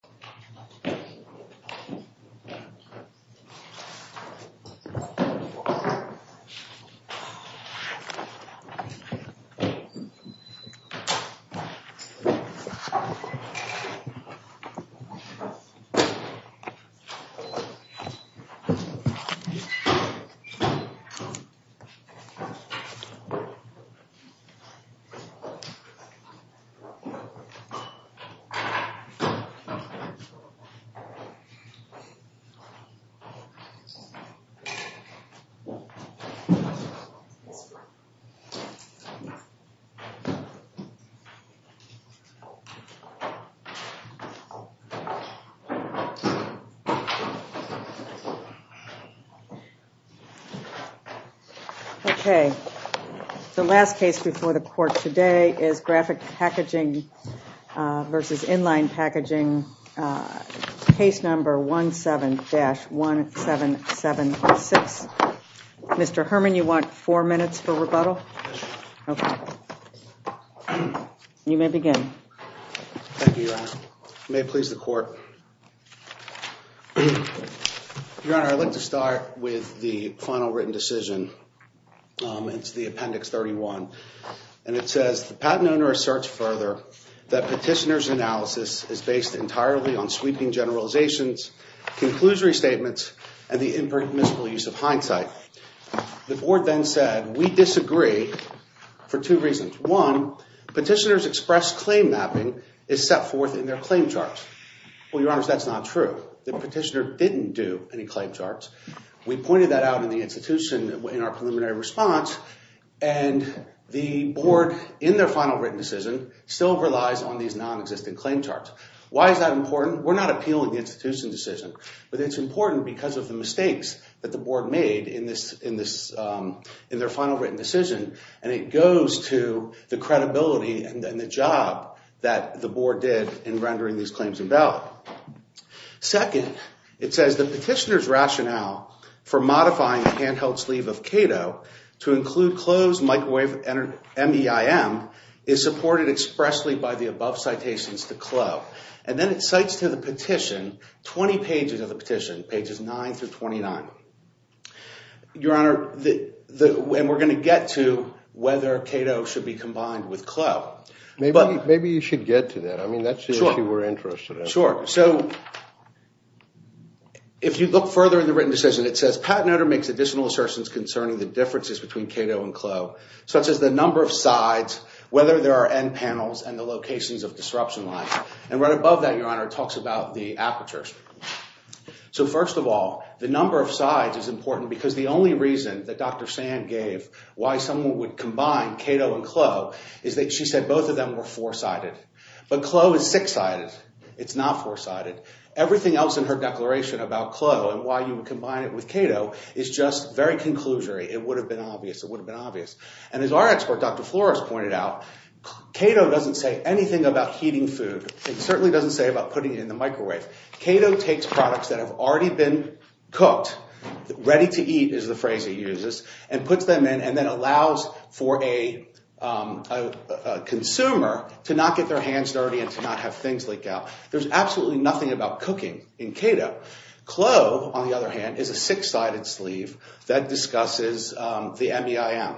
Inline Packaging, LLC Graphic Packaging vs. Inline Packaging, LLC Case Number 17-1776 Mr. Herman, you want four minutes for rebuttal? Yes, Your Honor. Okay. You may begin. Thank you, Your Honor. May it please the Court. Your Honor, I'd like to start with the final written decision. It's the Appendix 31. And it says, Well, Your Honor, that's not true. The petitioner didn't do any claim charts. We pointed that out in the institution in our preliminary response. And the Board, in their final written decision, still relies on these non-existent claim charts. Why is that important? We're not appealing the institution's decision. But it's important because of the mistakes that the Board made in their final written decision. And it goes to the credibility and the job that the Board did in rendering these claims invalid. Second, it says, M-E-I-M, is supported expressly by the above citations to Kloh. And then it cites to the petition 20 pages of the petition, pages 9 through 29. Your Honor, and we're going to get to whether Cato should be combined with Kloh. Maybe you should get to that. I mean, that's if you were interested. Sure. So, if you look further in the written decision, it says, Such as the number of sides, whether there are end panels, and the locations of disruption lines. And right above that, Your Honor, it talks about the apertures. So, first of all, the number of sides is important because the only reason that Dr. Sand gave why someone would combine Cato and Kloh is that she said both of them were four-sided. But Kloh is six-sided. It's not four-sided. Everything else in her declaration about Kloh and why you would combine it with Cato is just very conclusory. It would have been obvious. It would have been obvious. And as our expert, Dr. Flores, pointed out, Cato doesn't say anything about heating food. It certainly doesn't say about putting it in the microwave. Cato takes products that have already been cooked, ready to eat is the phrase he uses, and puts them in and then allows for a consumer to not get their hands dirty and to not have things leak out. There's absolutely nothing about cooking in Cato. Kloh, on the other hand, is a six-sided sleeve that discusses the MEIM.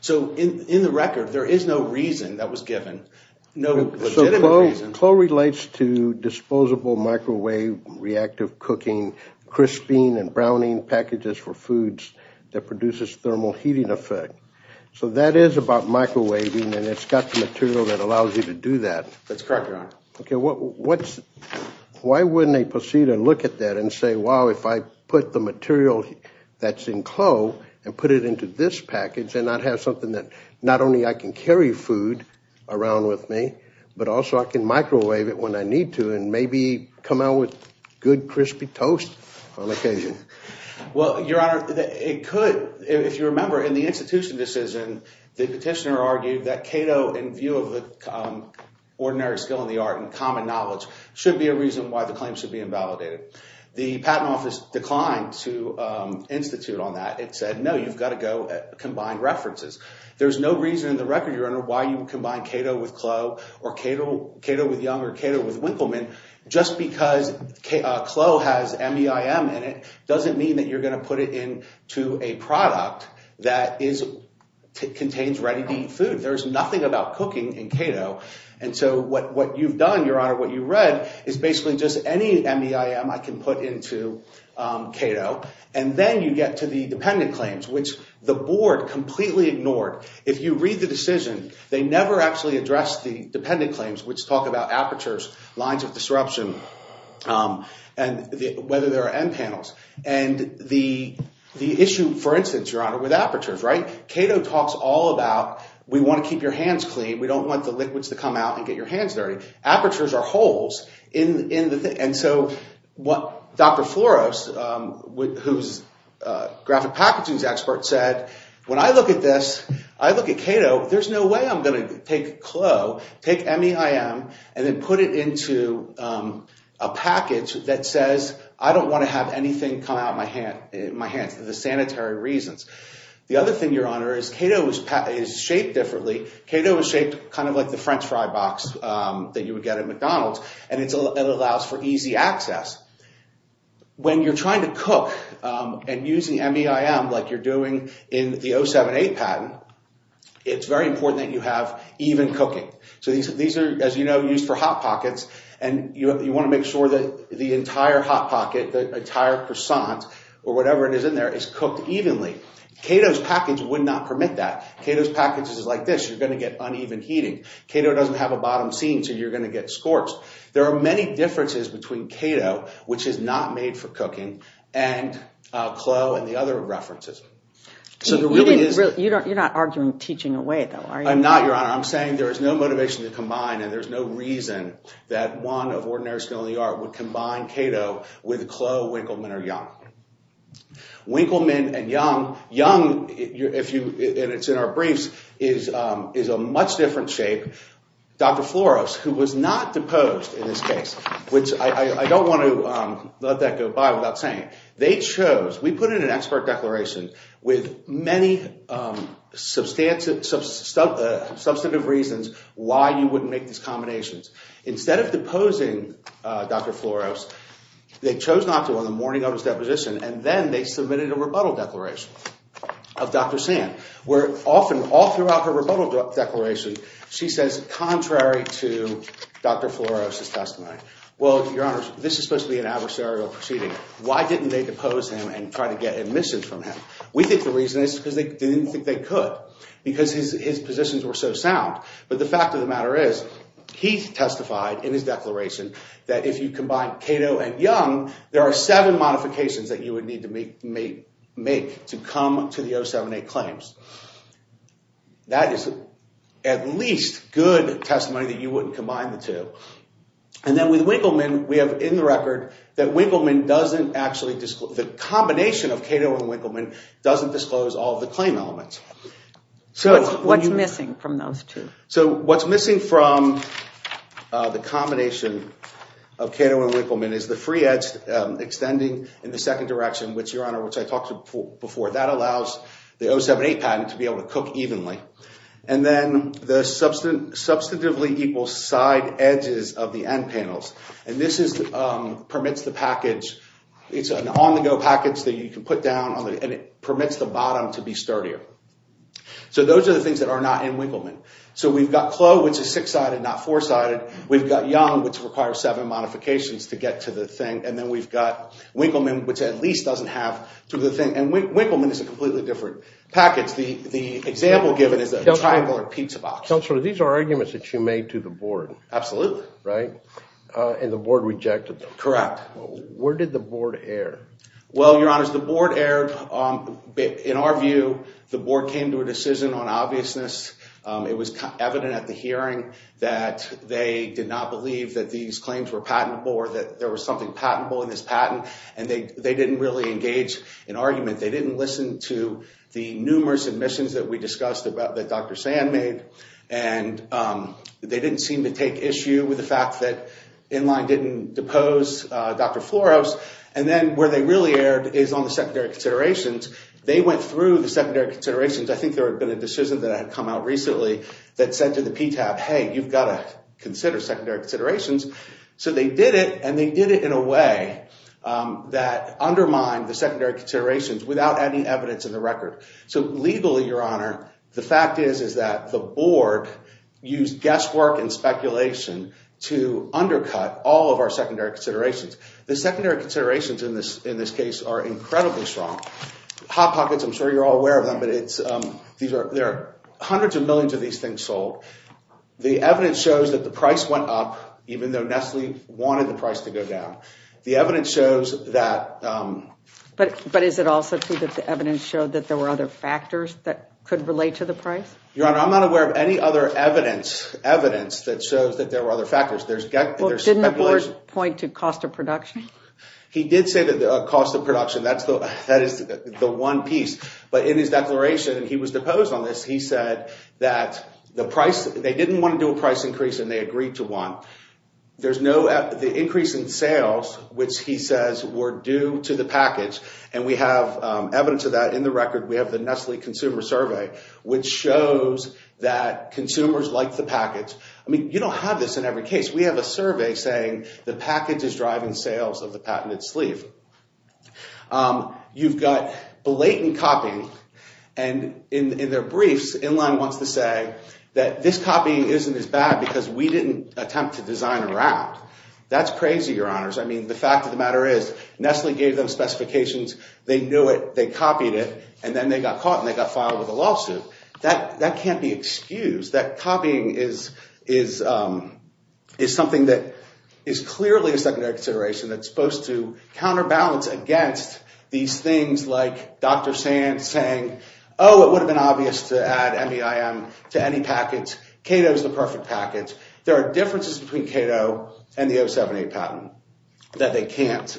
So, in the record, there is no reason that was given, no legitimate reason. So, Kloh relates to disposable microwave reactive cooking, crisping and browning packages for foods that produces thermal heating effect. So, that is about microwaving, and it's got the material that allows you to do that. That's correct, Your Honor. Okay. Why wouldn't they proceed and look at that and say, wow, if I put the material that's in Kloh and put it into this package, then I'd have something that not only I can carry food around with me, but also I can microwave it when I need to and maybe come out with good crispy toast on occasion. Well, Your Honor, it could. If you remember, in the institution decision, the petitioner argued that Cato, in view of the ordinary skill in the art and common knowledge, should be a reason why the claim should be invalidated. The Patent Office declined to institute on that. It said, no, you've got to go combine references. There's no reason in the record, Your Honor, why you would combine Cato with Kloh or Cato with Young or Cato with Winkleman. Just because Kloh has MEIM in it doesn't mean that you're going to put it into a product that contains ready-to-eat food. There's nothing about cooking in Cato. And so what you've done, Your Honor, what you read, is basically just any MEIM I can put into Cato. And then you get to the dependent claims, which the board completely ignored. If you read the decision, they never actually addressed the dependent claims, which talk about apertures, lines of disruption, and whether there are end panels. And the issue, for instance, Your Honor, with apertures, right? Cato talks all about, we want to keep your hands clean. We don't want the liquids to come out and get your hands dirty. Apertures are holes in the thing. And so what Dr. Floros, who's a graphic packaging expert, said, when I look at this, I look at Cato, there's no way I'm going to take Kloh, take MEIM, and then put it into a package that says, I don't want to have anything come out of my hands for the sanitary reasons. The other thing, Your Honor, is Cato is shaped differently. Cato is shaped kind of like the French fry box that you would get at McDonald's, and it allows for easy access. When you're trying to cook and using MEIM like you're doing in the 078 patent, it's very important that you have even cooking. So these are, as you know, used for hot pockets, and you want to make sure that the entire hot pocket, the entire croissant, or whatever it is in there, is cooked evenly. Cato's package would not permit that. Cato's package is like this. You're going to get uneven heating. Cato doesn't have a bottom seam, so you're going to get scorched. There are many differences between Cato, which is not made for cooking, and Kloh and the other references. You're not arguing teaching away, though, are you? I'm not, Your Honor. I'm saying there is no motivation to combine, and there's no reason that one of ordinary skill in the art would combine Cato with Kloh, Winkleman, or Young. Winkleman and Young, Young, and it's in our briefs, is a much different shape. Dr. Floros, who was not deposed in this case, which I don't want to let that go by without saying. We put in an expert declaration with many substantive reasons why you wouldn't make these combinations. Instead of deposing Dr. Floros, they chose not to on the morning of his deposition, and then they submitted a rebuttal declaration of Dr. Sand. Where often, all throughout her rebuttal declaration, she says, contrary to Dr. Floros' testimony. Well, Your Honor, this is supposed to be an adversarial proceeding. Why didn't they depose him and try to get admissions from him? We think the reason is because they didn't think they could because his positions were so sound. But the fact of the matter is he testified in his declaration that if you combine Cato and Young, there are seven modifications that you would need to make to come to the 07-8 claims. That is at least good testimony that you wouldn't combine the two. And then with Winkleman, we have in the record that the combination of Cato and Winkleman doesn't disclose all of the claim elements. What's missing from those two? So what's missing from the combination of Cato and Winkleman is the free edge extending in the second direction, which, Your Honor, which I talked to before. That allows the 07-8 patent to be able to cook evenly. And then the substantively equal side edges of the end panels. And this permits the package. It's an on-the-go package that you can put down, and it permits the bottom to be sturdier. So those are the things that are not in Winkleman. So we've got Clough, which is six-sided, not four-sided. We've got Young, which requires seven modifications to get to the thing. And then we've got Winkleman, which at least doesn't have to the thing. And Winkleman is a completely different package. The example given is a triangular pizza box. Counselor, these are arguments that you made to the board. Absolutely. Right? And the board rejected them. Correct. Where did the board err? Well, Your Honor, the board erred. In our view, the board came to a decision on obviousness. It was evident at the hearing that they did not believe that these claims were patentable or that there was something patentable in this patent. And they didn't really engage in argument. They didn't listen to the numerous admissions that we discussed that Dr. Sand made. And they didn't seem to take issue with the fact that Inline didn't depose Dr. Floros. And then where they really erred is on the secondary considerations. They went through the secondary considerations. I think there had been a decision that had come out recently that said to the PTAB, hey, you've got to consider secondary considerations. So they did it, and they did it in a way that undermined the secondary considerations without any evidence in the record. So legally, Your Honor, the fact is is that the board used guesswork and speculation to undercut all of our secondary considerations. The secondary considerations in this case are incredibly strong. Hot pockets, I'm sure you're all aware of them, but there are hundreds of millions of these things sold. The evidence shows that the price went up even though Nestle wanted the price to go down. The evidence shows that. But is it also true that the evidence showed that there were other factors that could relate to the price? Your Honor, I'm not aware of any other evidence that shows that there were other factors. Didn't the board point to cost of production? He did say the cost of production. That is the one piece. But in his declaration, he was deposed on this. He said that they didn't want to do a price increase, and they agreed to one. There's no increase in sales, which he says were due to the package, and we have evidence of that in the record. We have the Nestle Consumer Survey, which shows that consumers like the package. I mean, you don't have this in every case. We have a survey saying the package is driving sales of the patented sleeve. You've got blatant copying, and in their briefs, Inline wants to say that this copying isn't as bad because we didn't attempt to design around. That's crazy, Your Honors. I mean, the fact of the matter is Nestle gave them specifications. They knew it. They copied it, and then they got caught, and they got filed with a lawsuit. That can't be excused. That copying is something that is clearly a secondary consideration that's supposed to counterbalance against these things like Dr. Sand saying, oh, it would have been obvious to add MEIM to any package. Kato is the perfect package. There are differences between Kato and the 078 patent that they can't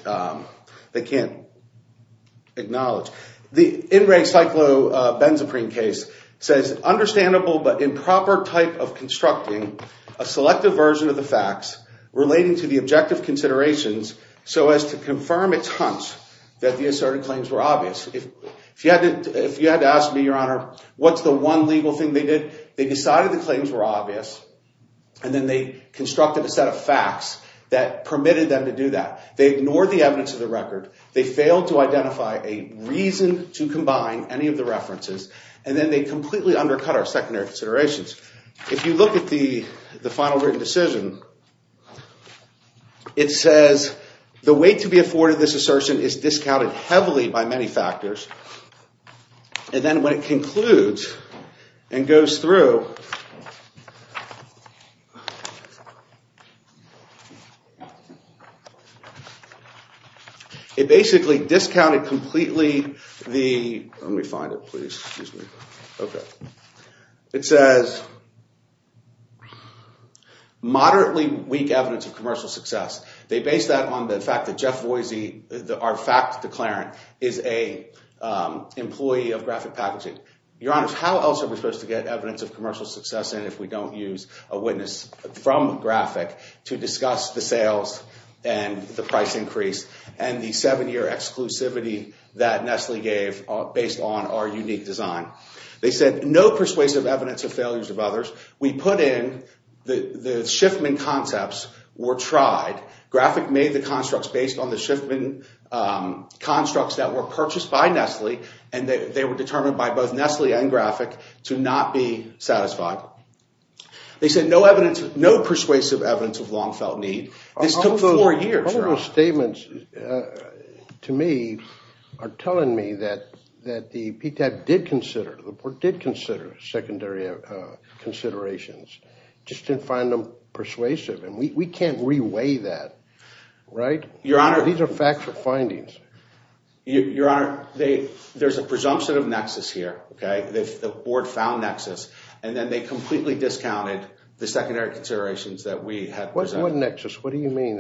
acknowledge. The in-ring cyclobenzaprine case says, understandable but improper type of constructing a selective version of the facts relating to the objective considerations so as to confirm its hunch that the asserted claims were obvious. If you had to ask me, Your Honor, what's the one legal thing they did? They decided the claims were obvious, and then they constructed a set of facts that permitted them to do that. They ignored the evidence of the record. They failed to identify a reason to combine any of the references, and then they completely undercut our secondary considerations. If you look at the final written decision, it says the weight to be afforded to this assertion is discounted heavily by many factors. And then when it concludes and goes through, it basically discounted completely the—let me find it, please. It says moderately weak evidence of commercial success. They base that on the fact that Jeff Voisey, our fact declarant, is an employee of Graphic Packaging. Your Honor, how else are we supposed to get evidence of commercial success in if we don't use a witness from Graphic to discuss the sales and the price increase and the seven-year exclusivity that Nestle gave based on our unique design? They said no persuasive evidence of failures of others. We put in the Schiffman concepts were tried. Graphic made the constructs based on the Schiffman constructs that were purchased by Nestle, and they were determined by both Nestle and Graphic to not be satisfied. They said no persuasive evidence of long-felt need. This took four years, Your Honor. All those statements to me are telling me that the PTAP did consider—the board did consider secondary considerations, just didn't find them persuasive, and we can't reweigh that, right? Your Honor— These are factual findings. Your Honor, there's a presumption of nexus here, okay? The board found nexus, and then they completely discounted the secondary considerations that we had presented. What nexus? What do you mean?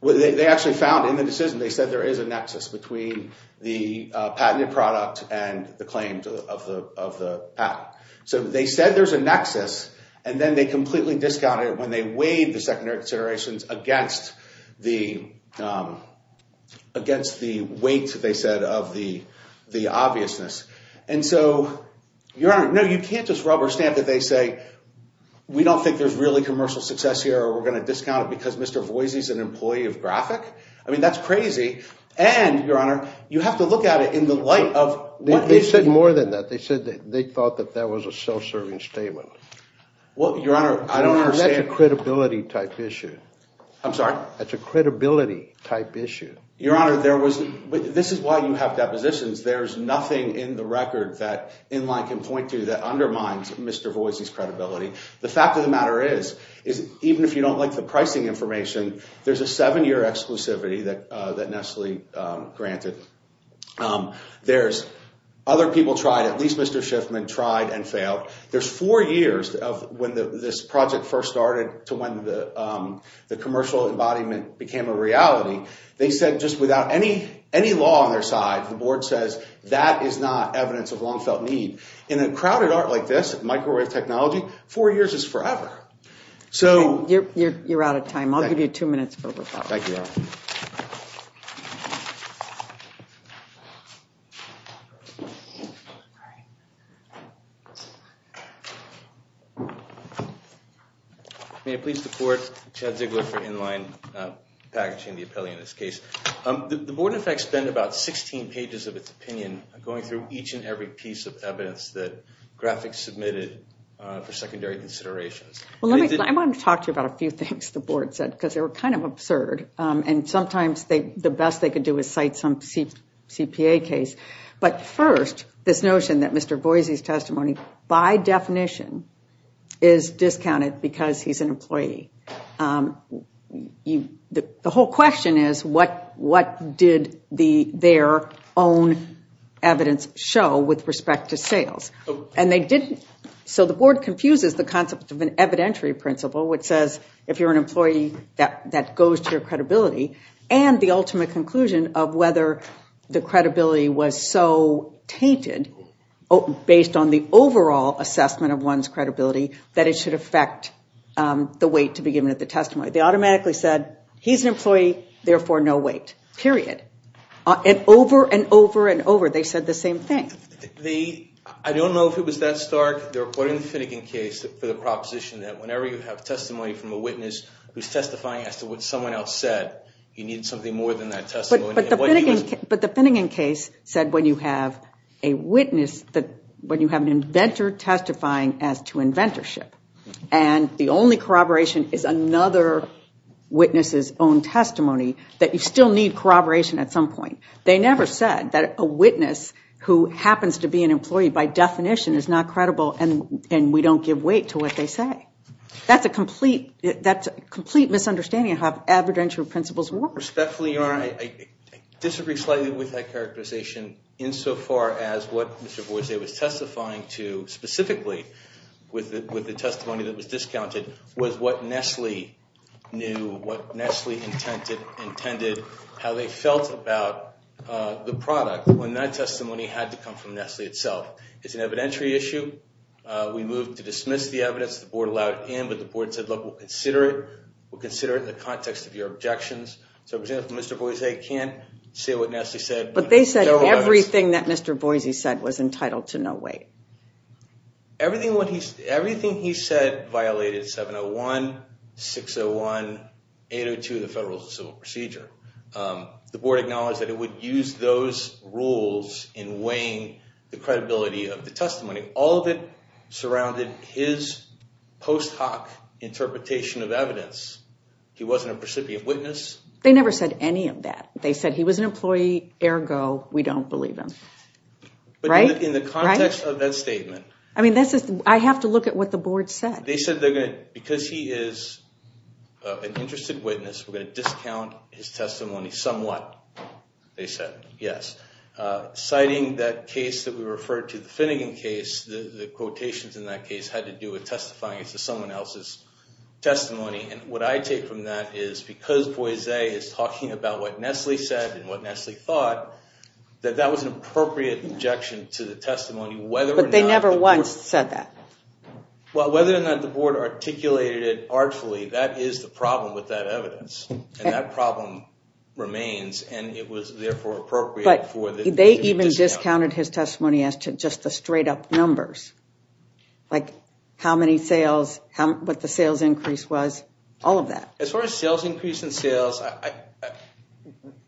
They actually found in the decision, they said there is a nexus between the patented product and the claims of the patent. So they said there's a nexus, and then they completely discounted it when they weighed the secondary considerations against the weight, they said, of the obviousness. And so, Your Honor, no, you can't just rubber stamp that they say we don't think there's really commercial success here or we're going to discount it because Mr. Voisey's an employee of Graphic. I mean, that's crazy. And, Your Honor, you have to look at it in the light of— They said more than that. They said they thought that that was a self-serving statement. Well, Your Honor, I don't understand— That's a credibility-type issue. I'm sorry? That's a credibility-type issue. Your Honor, this is why you have depositions. There's nothing in the record that Inline can point to that undermines Mr. Voisey's credibility. The fact of the matter is, even if you don't like the pricing information, there's a seven-year exclusivity that Nestle granted. There's other people tried. At least Mr. Schiffman tried and failed. There's four years of when this project first started to when the commercial embodiment became a reality. They said just without any law on their side, the board says that is not evidence of long-felt need. In a crowded art like this, microwave technology, four years is forever. So— You're out of time. I'll give you two minutes for rebuttal. Thank you, Your Honor. May I please report? Chad Ziegler for Inline, packaging the appellee in this case. The board, in fact, spent about 16 pages of its opinion going through each and every piece of evidence that graphics submitted for secondary considerations. I wanted to talk to you about a few things the board said because they were kind of absurd. And sometimes the best they could do is cite some CPA case. But first, this notion that Mr. Boise's testimony, by definition, is discounted because he's an employee. The whole question is what did their own evidence show with respect to sales? So the board confuses the concept of an evidentiary principle, which says if you're an employee, that goes to your credibility, and the ultimate conclusion of whether the credibility was so tainted based on the overall assessment of one's credibility that it should affect the weight to be given at the testimony. They automatically said he's an employee, therefore no weight, period. And over and over and over, they said the same thing. I don't know if it was that stark. They're quoting the Finnegan case for the proposition that whenever you have testimony from a witness who's testifying as to what someone else said, you need something more than that testimony. But the Finnegan case said when you have a witness, when you have an inventor testifying as to inventorship, and the only corroboration is another witness's own testimony, that you still need corroboration at some point. They never said that a witness who happens to be an employee by definition is not credible and we don't give weight to what they say. That's a complete misunderstanding of how evidentiary principles work. Respectfully, Your Honor, I disagree slightly with that characterization insofar as what Mr. Boise was testifying to specifically with the testimony that was discounted was what Nestle knew, what Nestle intended, how they felt about the product when that testimony had to come from Nestle itself. It's an evidentiary issue. We moved to dismiss the evidence. The board allowed it in, but the board said, look, we'll consider it. So, for example, Mr. Boise can't say what Nestle said. But they said everything that Mr. Boise said was entitled to no weight. Everything he said violated 701, 601, 802 of the Federal Civil Procedure. The board acknowledged that it would use those rules in weighing the credibility of the testimony. All of it surrounded his post hoc interpretation of evidence. He wasn't a precipient witness. They never said any of that. They said he was an employee, ergo, we don't believe him. Right? In the context of that statement. I mean, I have to look at what the board said. They said because he is an interested witness, we're going to discount his testimony somewhat, they said, yes. Citing that case that we referred to, the Finnegan case, the quotations in that case had to do with testifying to someone else's testimony. And what I take from that is because Boise is talking about what Nestle said and what Nestle thought, that that was an appropriate objection to the testimony, whether or not the board said that. But they never once said that. Well, whether or not the board articulated it artfully, that is the problem with that evidence. And that problem remains. But they even discounted his testimony as to just the straight up numbers. Like how many sales, what the sales increase was, all of that. As far as sales increase and sales,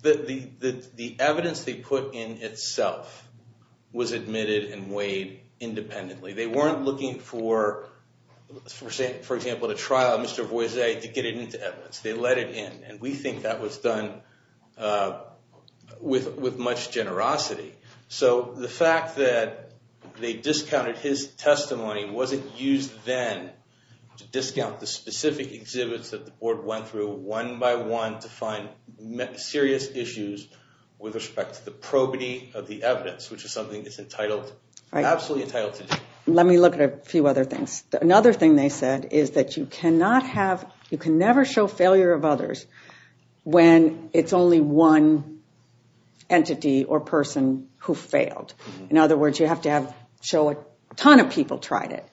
the evidence they put in itself was admitted and weighed independently. They weren't looking for, for example, the trial of Mr. Boise to get it into evidence. They let it in. And we think that was done with much generosity. So the fact that they discounted his testimony wasn't used then to discount the specific exhibits that the board went through one by one to find serious issues with respect to the probity of the evidence, which is something that's entitled, absolutely entitled to do. Let me look at a few other things. Another thing they said is that you cannot have, you can never show failure of others when it's only one entity or person who failed. In other words, you have to show a ton of people tried it.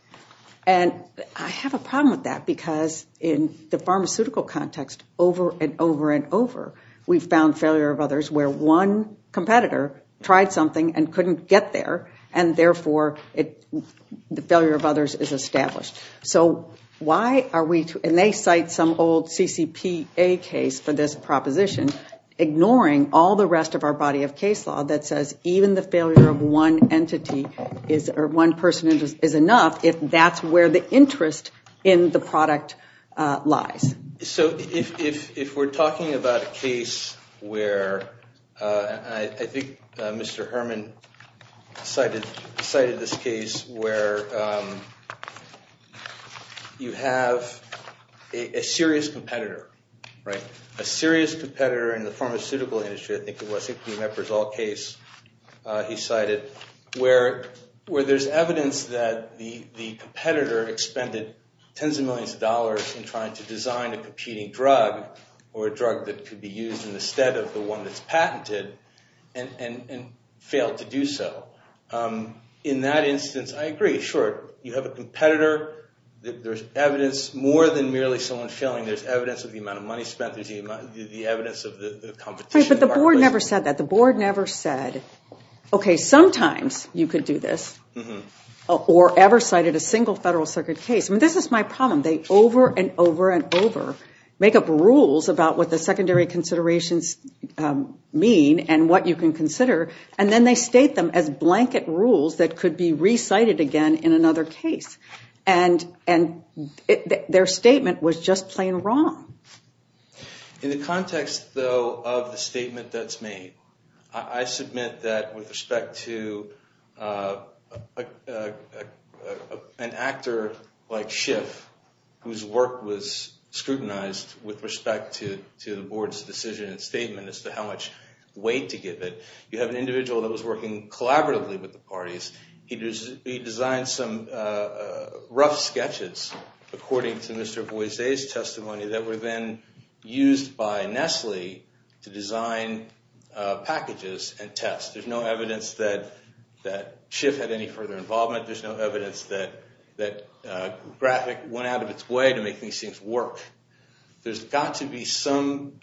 And I have a problem with that because in the pharmaceutical context, over and over and over, we've found failure of others where one competitor tried something and couldn't get there, and therefore the failure of others is established. So why are we, and they cite some old CCPA case for this proposition, ignoring all the rest of our body of case law that says even the failure of one entity or one person is enough if that's where the interest in the product lies. So if we're talking about a case where, and I think Mr. Herman cited this case where you have a serious competitor, right, a serious competitor in the pharmaceutical industry, I think it was, it could be an Ebersol case he cited, where there's evidence that the competitor expended tens of millions of dollars in trying to design a competing drug, or a drug that could be used instead of the one that's patented, and failed to do so. In that instance, I agree, sure, you have a competitor, there's evidence, more than merely someone failing, there's evidence of the amount of money spent, there's the evidence of the competition. Right, but the board never said that, the board never said, okay, sometimes you could do this, or ever cited a single Federal Circuit case. I mean, this is my problem, they over and over and over make up rules about what the secondary considerations mean, and what you can consider, and then they state them as blanket rules that could be recited again in another case. And their statement was just plain wrong. In the context, though, of the statement that's made, I submit that with respect to an actor like Schiff, whose work was scrutinized with respect to the board's decision and statement as to how much weight to give it, you have an individual that was working collaboratively with the parties, he designed some rough sketches, according to Mr. Boise's testimony, that were then used by Nestle to design packages and tests. There's no evidence that Schiff had any further involvement, there's no evidence that Graphic went out of its way to make these things work. There's got to be some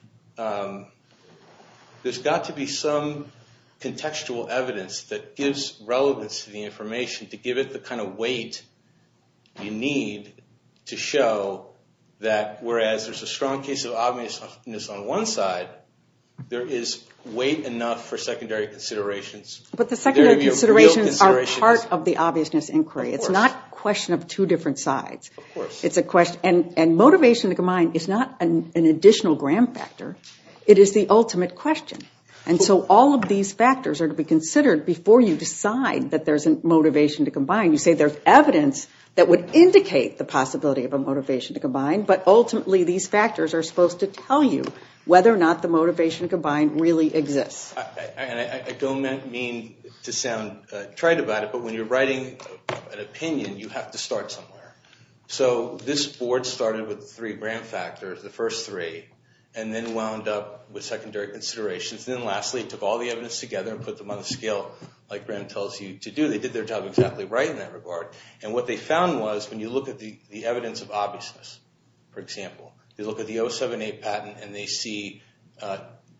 contextual evidence that gives relevance to the information, to give it the kind of weight you need to show that whereas there's a strong case of obviousness on one side, there is weight enough for secondary considerations. But the secondary considerations are part of the obviousness inquiry, it's not a question of two different sides. And motivation to combine is not an additional gram factor, it is the ultimate question. And so all of these factors are to be considered before you decide that there's a motivation to combine. You say there's evidence that would indicate the possibility of a motivation to combine, but ultimately these factors are supposed to tell you whether or not the motivation to combine really exists. I don't mean to sound trite about it, but when you're writing an opinion, you have to start somewhere. So this board started with three gram factors, the first three, and then wound up with secondary considerations, then lastly took all the evidence together and put them on a scale like Graham tells you to do. They did their job exactly right in that regard. And what they found was when you look at the evidence of obviousness, for example, you look at the 07A patent and they see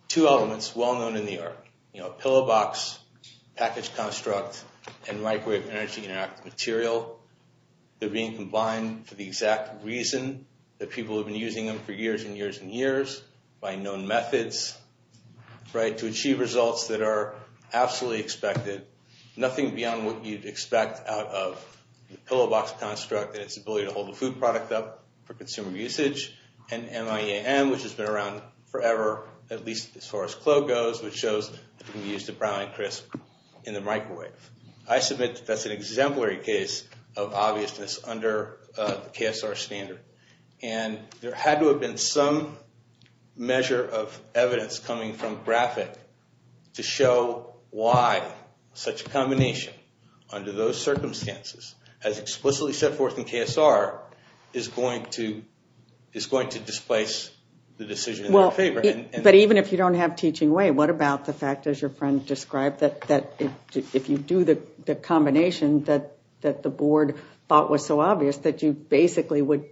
two elements well known in the art, you know, a pillow box, package construct, and microwave energy interactive material. They're being combined for the exact reason that people have been using them for years and years and years, by known methods, right, to achieve results that are absolutely expected. Nothing beyond what you'd expect out of the pillow box construct and its ability to hold the food product up for consumer usage, and MIEAM, which has been around forever, at least as far as CLO goes, which shows that you can use the brown and crisp in the microwave. I submit that that's an exemplary case of obviousness under the KSR standard. And there had to have been some measure of evidence coming from GRAPHIC to show why such a combination under those circumstances, as explicitly set forth in KSR, is going to displace the decision in their favor. But even if you don't have teaching way, what about the fact, as your friend described, that if you do the combination that the board thought was so obvious, that you basically would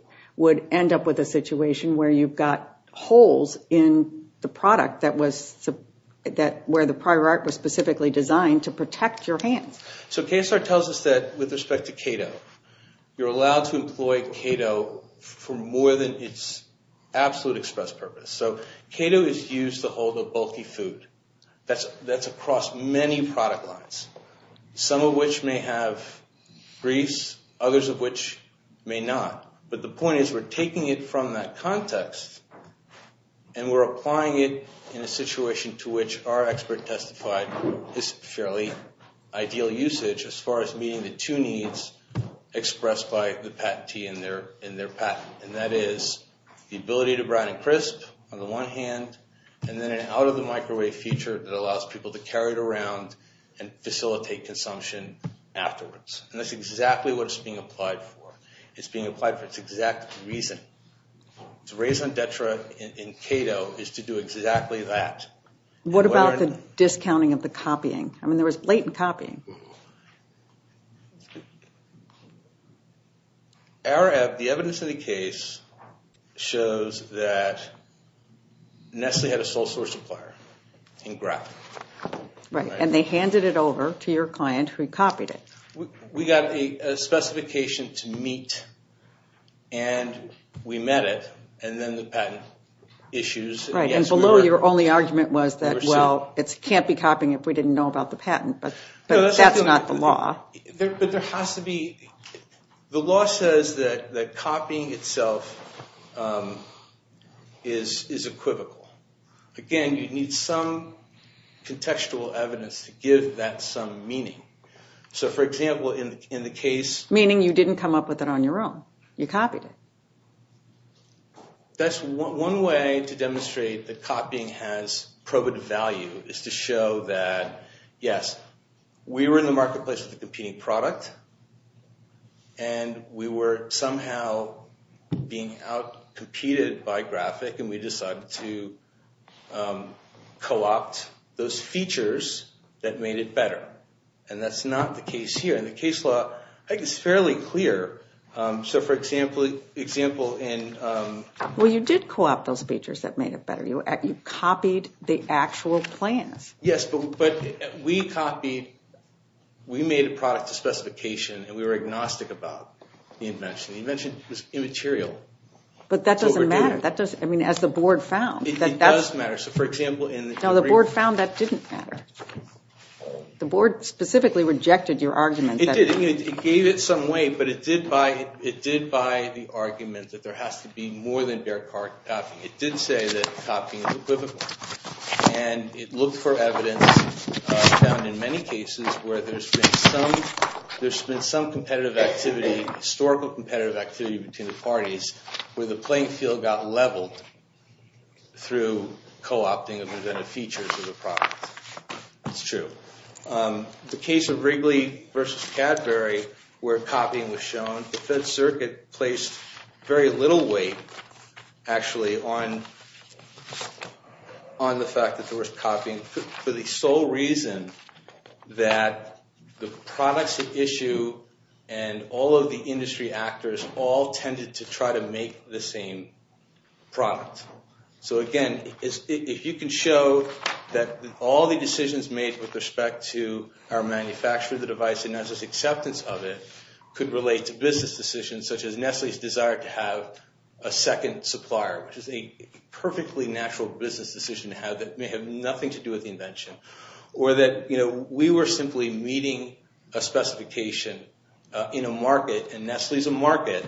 end up with a situation where you've got holes in the product where the prior art was specifically designed to protect your hands. So KSR tells us that, with respect to Keto, you're allowed to employ Keto for more than its absolute express purpose. So Keto is used to hold a bulky food that's across many product lines, some of which may have grease, others of which may not. But the point is we're taking it from that context, and we're applying it in a situation to which our expert testified is fairly ideal usage, as far as meeting the two needs expressed by the patentee in their patent. And that is the ability to brown and crisp on the one hand, and then an out-of-the-microwave feature that allows people to carry it around and facilitate consumption afterwards. And that's exactly what it's being applied for. It's being applied for its exact reason. To raise on Detra in Keto is to do exactly that. What about the discounting of the copying? I mean, there was blatant copying. The evidence of the case shows that Nestle had a sole source supplier in graph. Right, and they handed it over to your client who copied it. We got a specification to meet, and we met it, and then the patent issues. Right, and below your only argument was that, well, it can't be copying if we didn't know about the patent. But that's not the law. But there has to be. The law says that copying itself is equivocal. Again, you need some contextual evidence to give that some meaning. So, for example, in the case. Meaning you didn't come up with it on your own. You copied it. That's one way to demonstrate that copying has probative value, is to show that, yes, we were in the marketplace with a competing product, and we were somehow being out-competed by graphic, and we decided to co-opt those features that made it better. And that's not the case here. In the case law, I think it's fairly clear. So, for example, in. Well, you did co-opt those features that made it better. You copied the actual plans. Yes, but we copied. We made a product to specification, and we were agnostic about the invention. The invention was immaterial. But that doesn't matter. That doesn't. I mean, as the board found. It does matter. So, for example, in. No, the board found that didn't matter. The board specifically rejected your argument. It did. It gave it some weight, but it did by the argument that there has to be more than bare copy. It did say that copying is equivocal. And it looked for evidence found in many cases where there's been some competitive activity, historical competitive activity between the parties, where the playing field got leveled through co-opting of inventive features of the product. It's true. The case of Wrigley versus Cadbury, where copying was shown, the Fed Circuit placed very little weight, actually, on the fact that there was copying for the sole reason that the products at issue and all of the industry actors all tended to try to make the same product. So, again, if you can show that all the decisions made with respect to our manufacture of the device and Nestle's acceptance of it could relate to business decisions, such as Nestle's desire to have a second supplier, which is a perfectly natural business decision to have that may have nothing to do with the invention, or that we were simply meeting a specification in a market, and Nestle's a market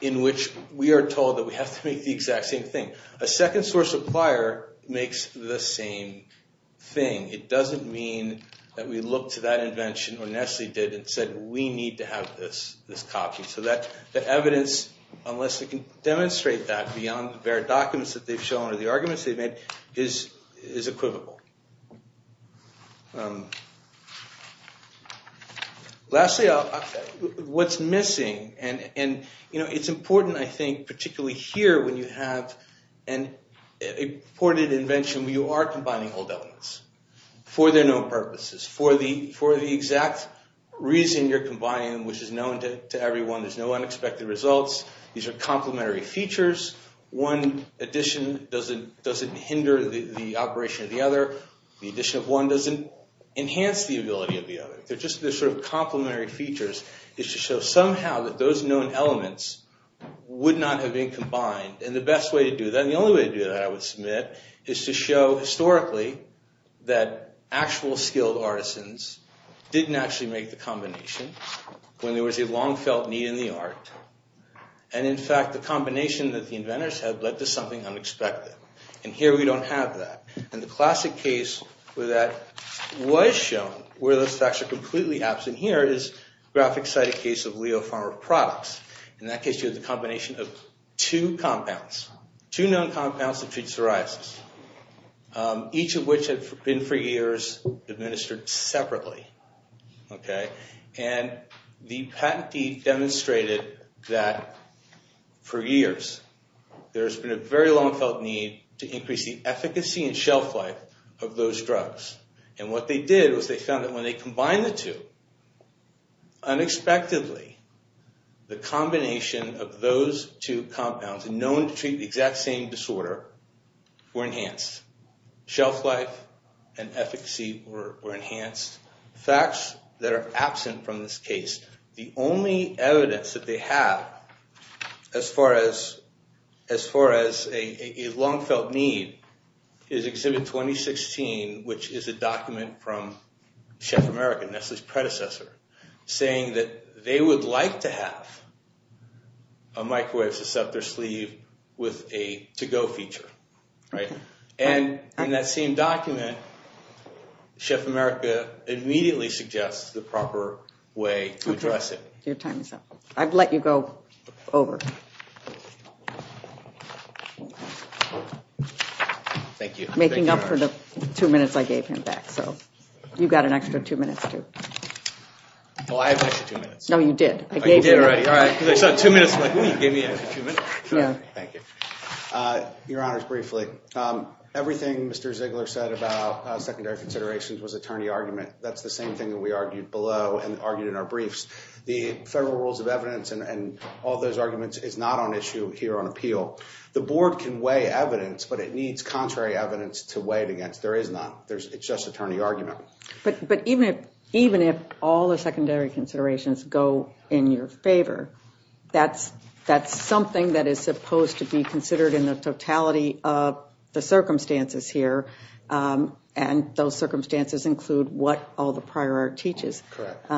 in which we are told that we have to make the exact same thing. A second source supplier makes the same thing. It doesn't mean that we looked to that invention, or Nestle did, and said, we need to have this copy. So the evidence, unless it can demonstrate that beyond their documents that they've shown or the arguments they've made, is equivocal. Lastly, what's missing, and it's important, I think, particularly here when you have a reported invention where you are combining old elements for their known purposes, for the exact reason you're combining them, which is known to everyone. There's no unexpected results. These are complementary features. One addition doesn't hinder the operation of the other. The addition of one doesn't enhance the ability of the other. They're just sort of complementary features. It's to show somehow that those known elements would not have been combined. And the best way to do that, and the only way to do that, I would submit, is to show historically that actual skilled artisans didn't actually make the combination when there was a long-felt need in the art. And in fact, the combination that the inventors had led to something unexpected. And here we don't have that. And the classic case where that was shown, where those facts are completely absent here, is the graphic-sided case of Leo Farmer products. In that case, you have the combination of two compounds, two known compounds that treat psoriasis, each of which had been for years administered separately. And the patentee demonstrated that for years there has been a very long-felt need to increase the efficacy and shelf life of those drugs. And what they did was they found that when they combined the two, unexpectedly, the combination of those two compounds, known to treat the exact same disorder, were enhanced. Shelf life and efficacy were enhanced. Facts that are absent from this case. The only evidence that they have as far as a long-felt need is Exhibit 2016, which is a document from Chef America, Nestle's predecessor, saying that they would like to have a microwave to set their sleeve with a to-go feature. And in that same document, Chef America immediately suggests the proper way to address it. Your time is up. I've let you go over. Thank you. Making up for the two minutes I gave him back. So you've got an extra two minutes, too. Oh, I have an extra two minutes. No, you did. Oh, you did already. All right. Because I saw two minutes and I was like, oh, you gave me an extra two minutes. Thank you. Your Honors, briefly, everything Mr. Ziegler said about secondary considerations was attorney argument. That's the same thing that we argued below and argued in our briefs. The Federal Rules of Evidence and all those arguments is not on issue here on appeal. The Board can weigh evidence, but it needs contrary evidence to weigh it against. There is none. It's just attorney argument. But even if all the secondary considerations go in your favor, that's something that is supposed to be considered in the totality of the circumstances here. And those circumstances include what all the prior art teaches. Correct.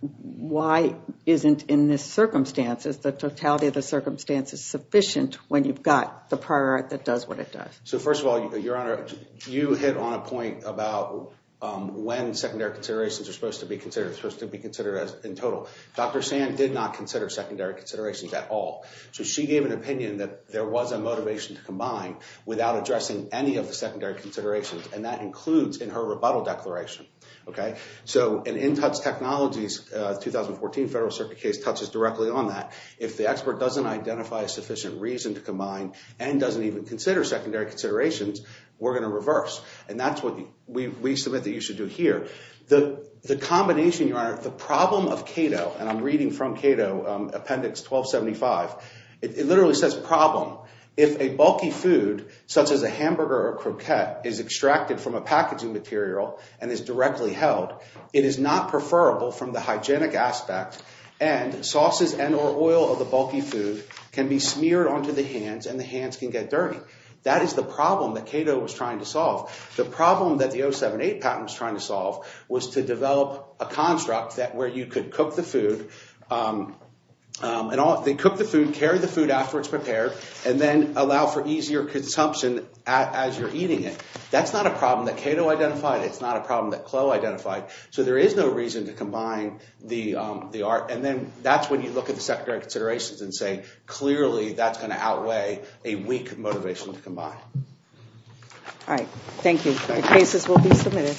Why isn't in this circumstances, the totality of the circumstances sufficient when you've got the prior art that does what it does? So first of all, Your Honor, you hit on a point about when secondary considerations are supposed to be considered. It's supposed to be considered as in total. Dr. Sand did not consider secondary considerations at all. So she gave an opinion that there was a motivation to combine without addressing any of the secondary considerations. And that includes in her rebuttal declaration. Okay. So an in-touch technologies 2014 Federal Circuit case touches directly on that. If the expert doesn't identify a sufficient reason to combine and doesn't even consider secondary considerations, we're going to reverse. And that's what we submit that you should do here. The combination, Your Honor, the problem of Cato, and I'm reading from Cato, Appendix 1275. It literally says problem. If a bulky food such as a hamburger or croquette is extracted from a packaging material and is directly held, it is not preferable from the hygienic aspect and sauces and or oil of the bulky food can be smeared onto the hands and the hands can get dirty. That is the problem that Cato was trying to solve. The problem that the 078 patent was trying to solve was to develop a construct that where you could cook the food. They cook the food, carry the food afterwards prepared, and then allow for easier consumption as you're eating it. That's not a problem that Cato identified. It's not a problem that Cloe identified. So there is no reason to combine the art. And then that's when you look at the secondary considerations and say, clearly, that's going to outweigh a weak motivation to combine. All right. Thank you. The cases will be submitted.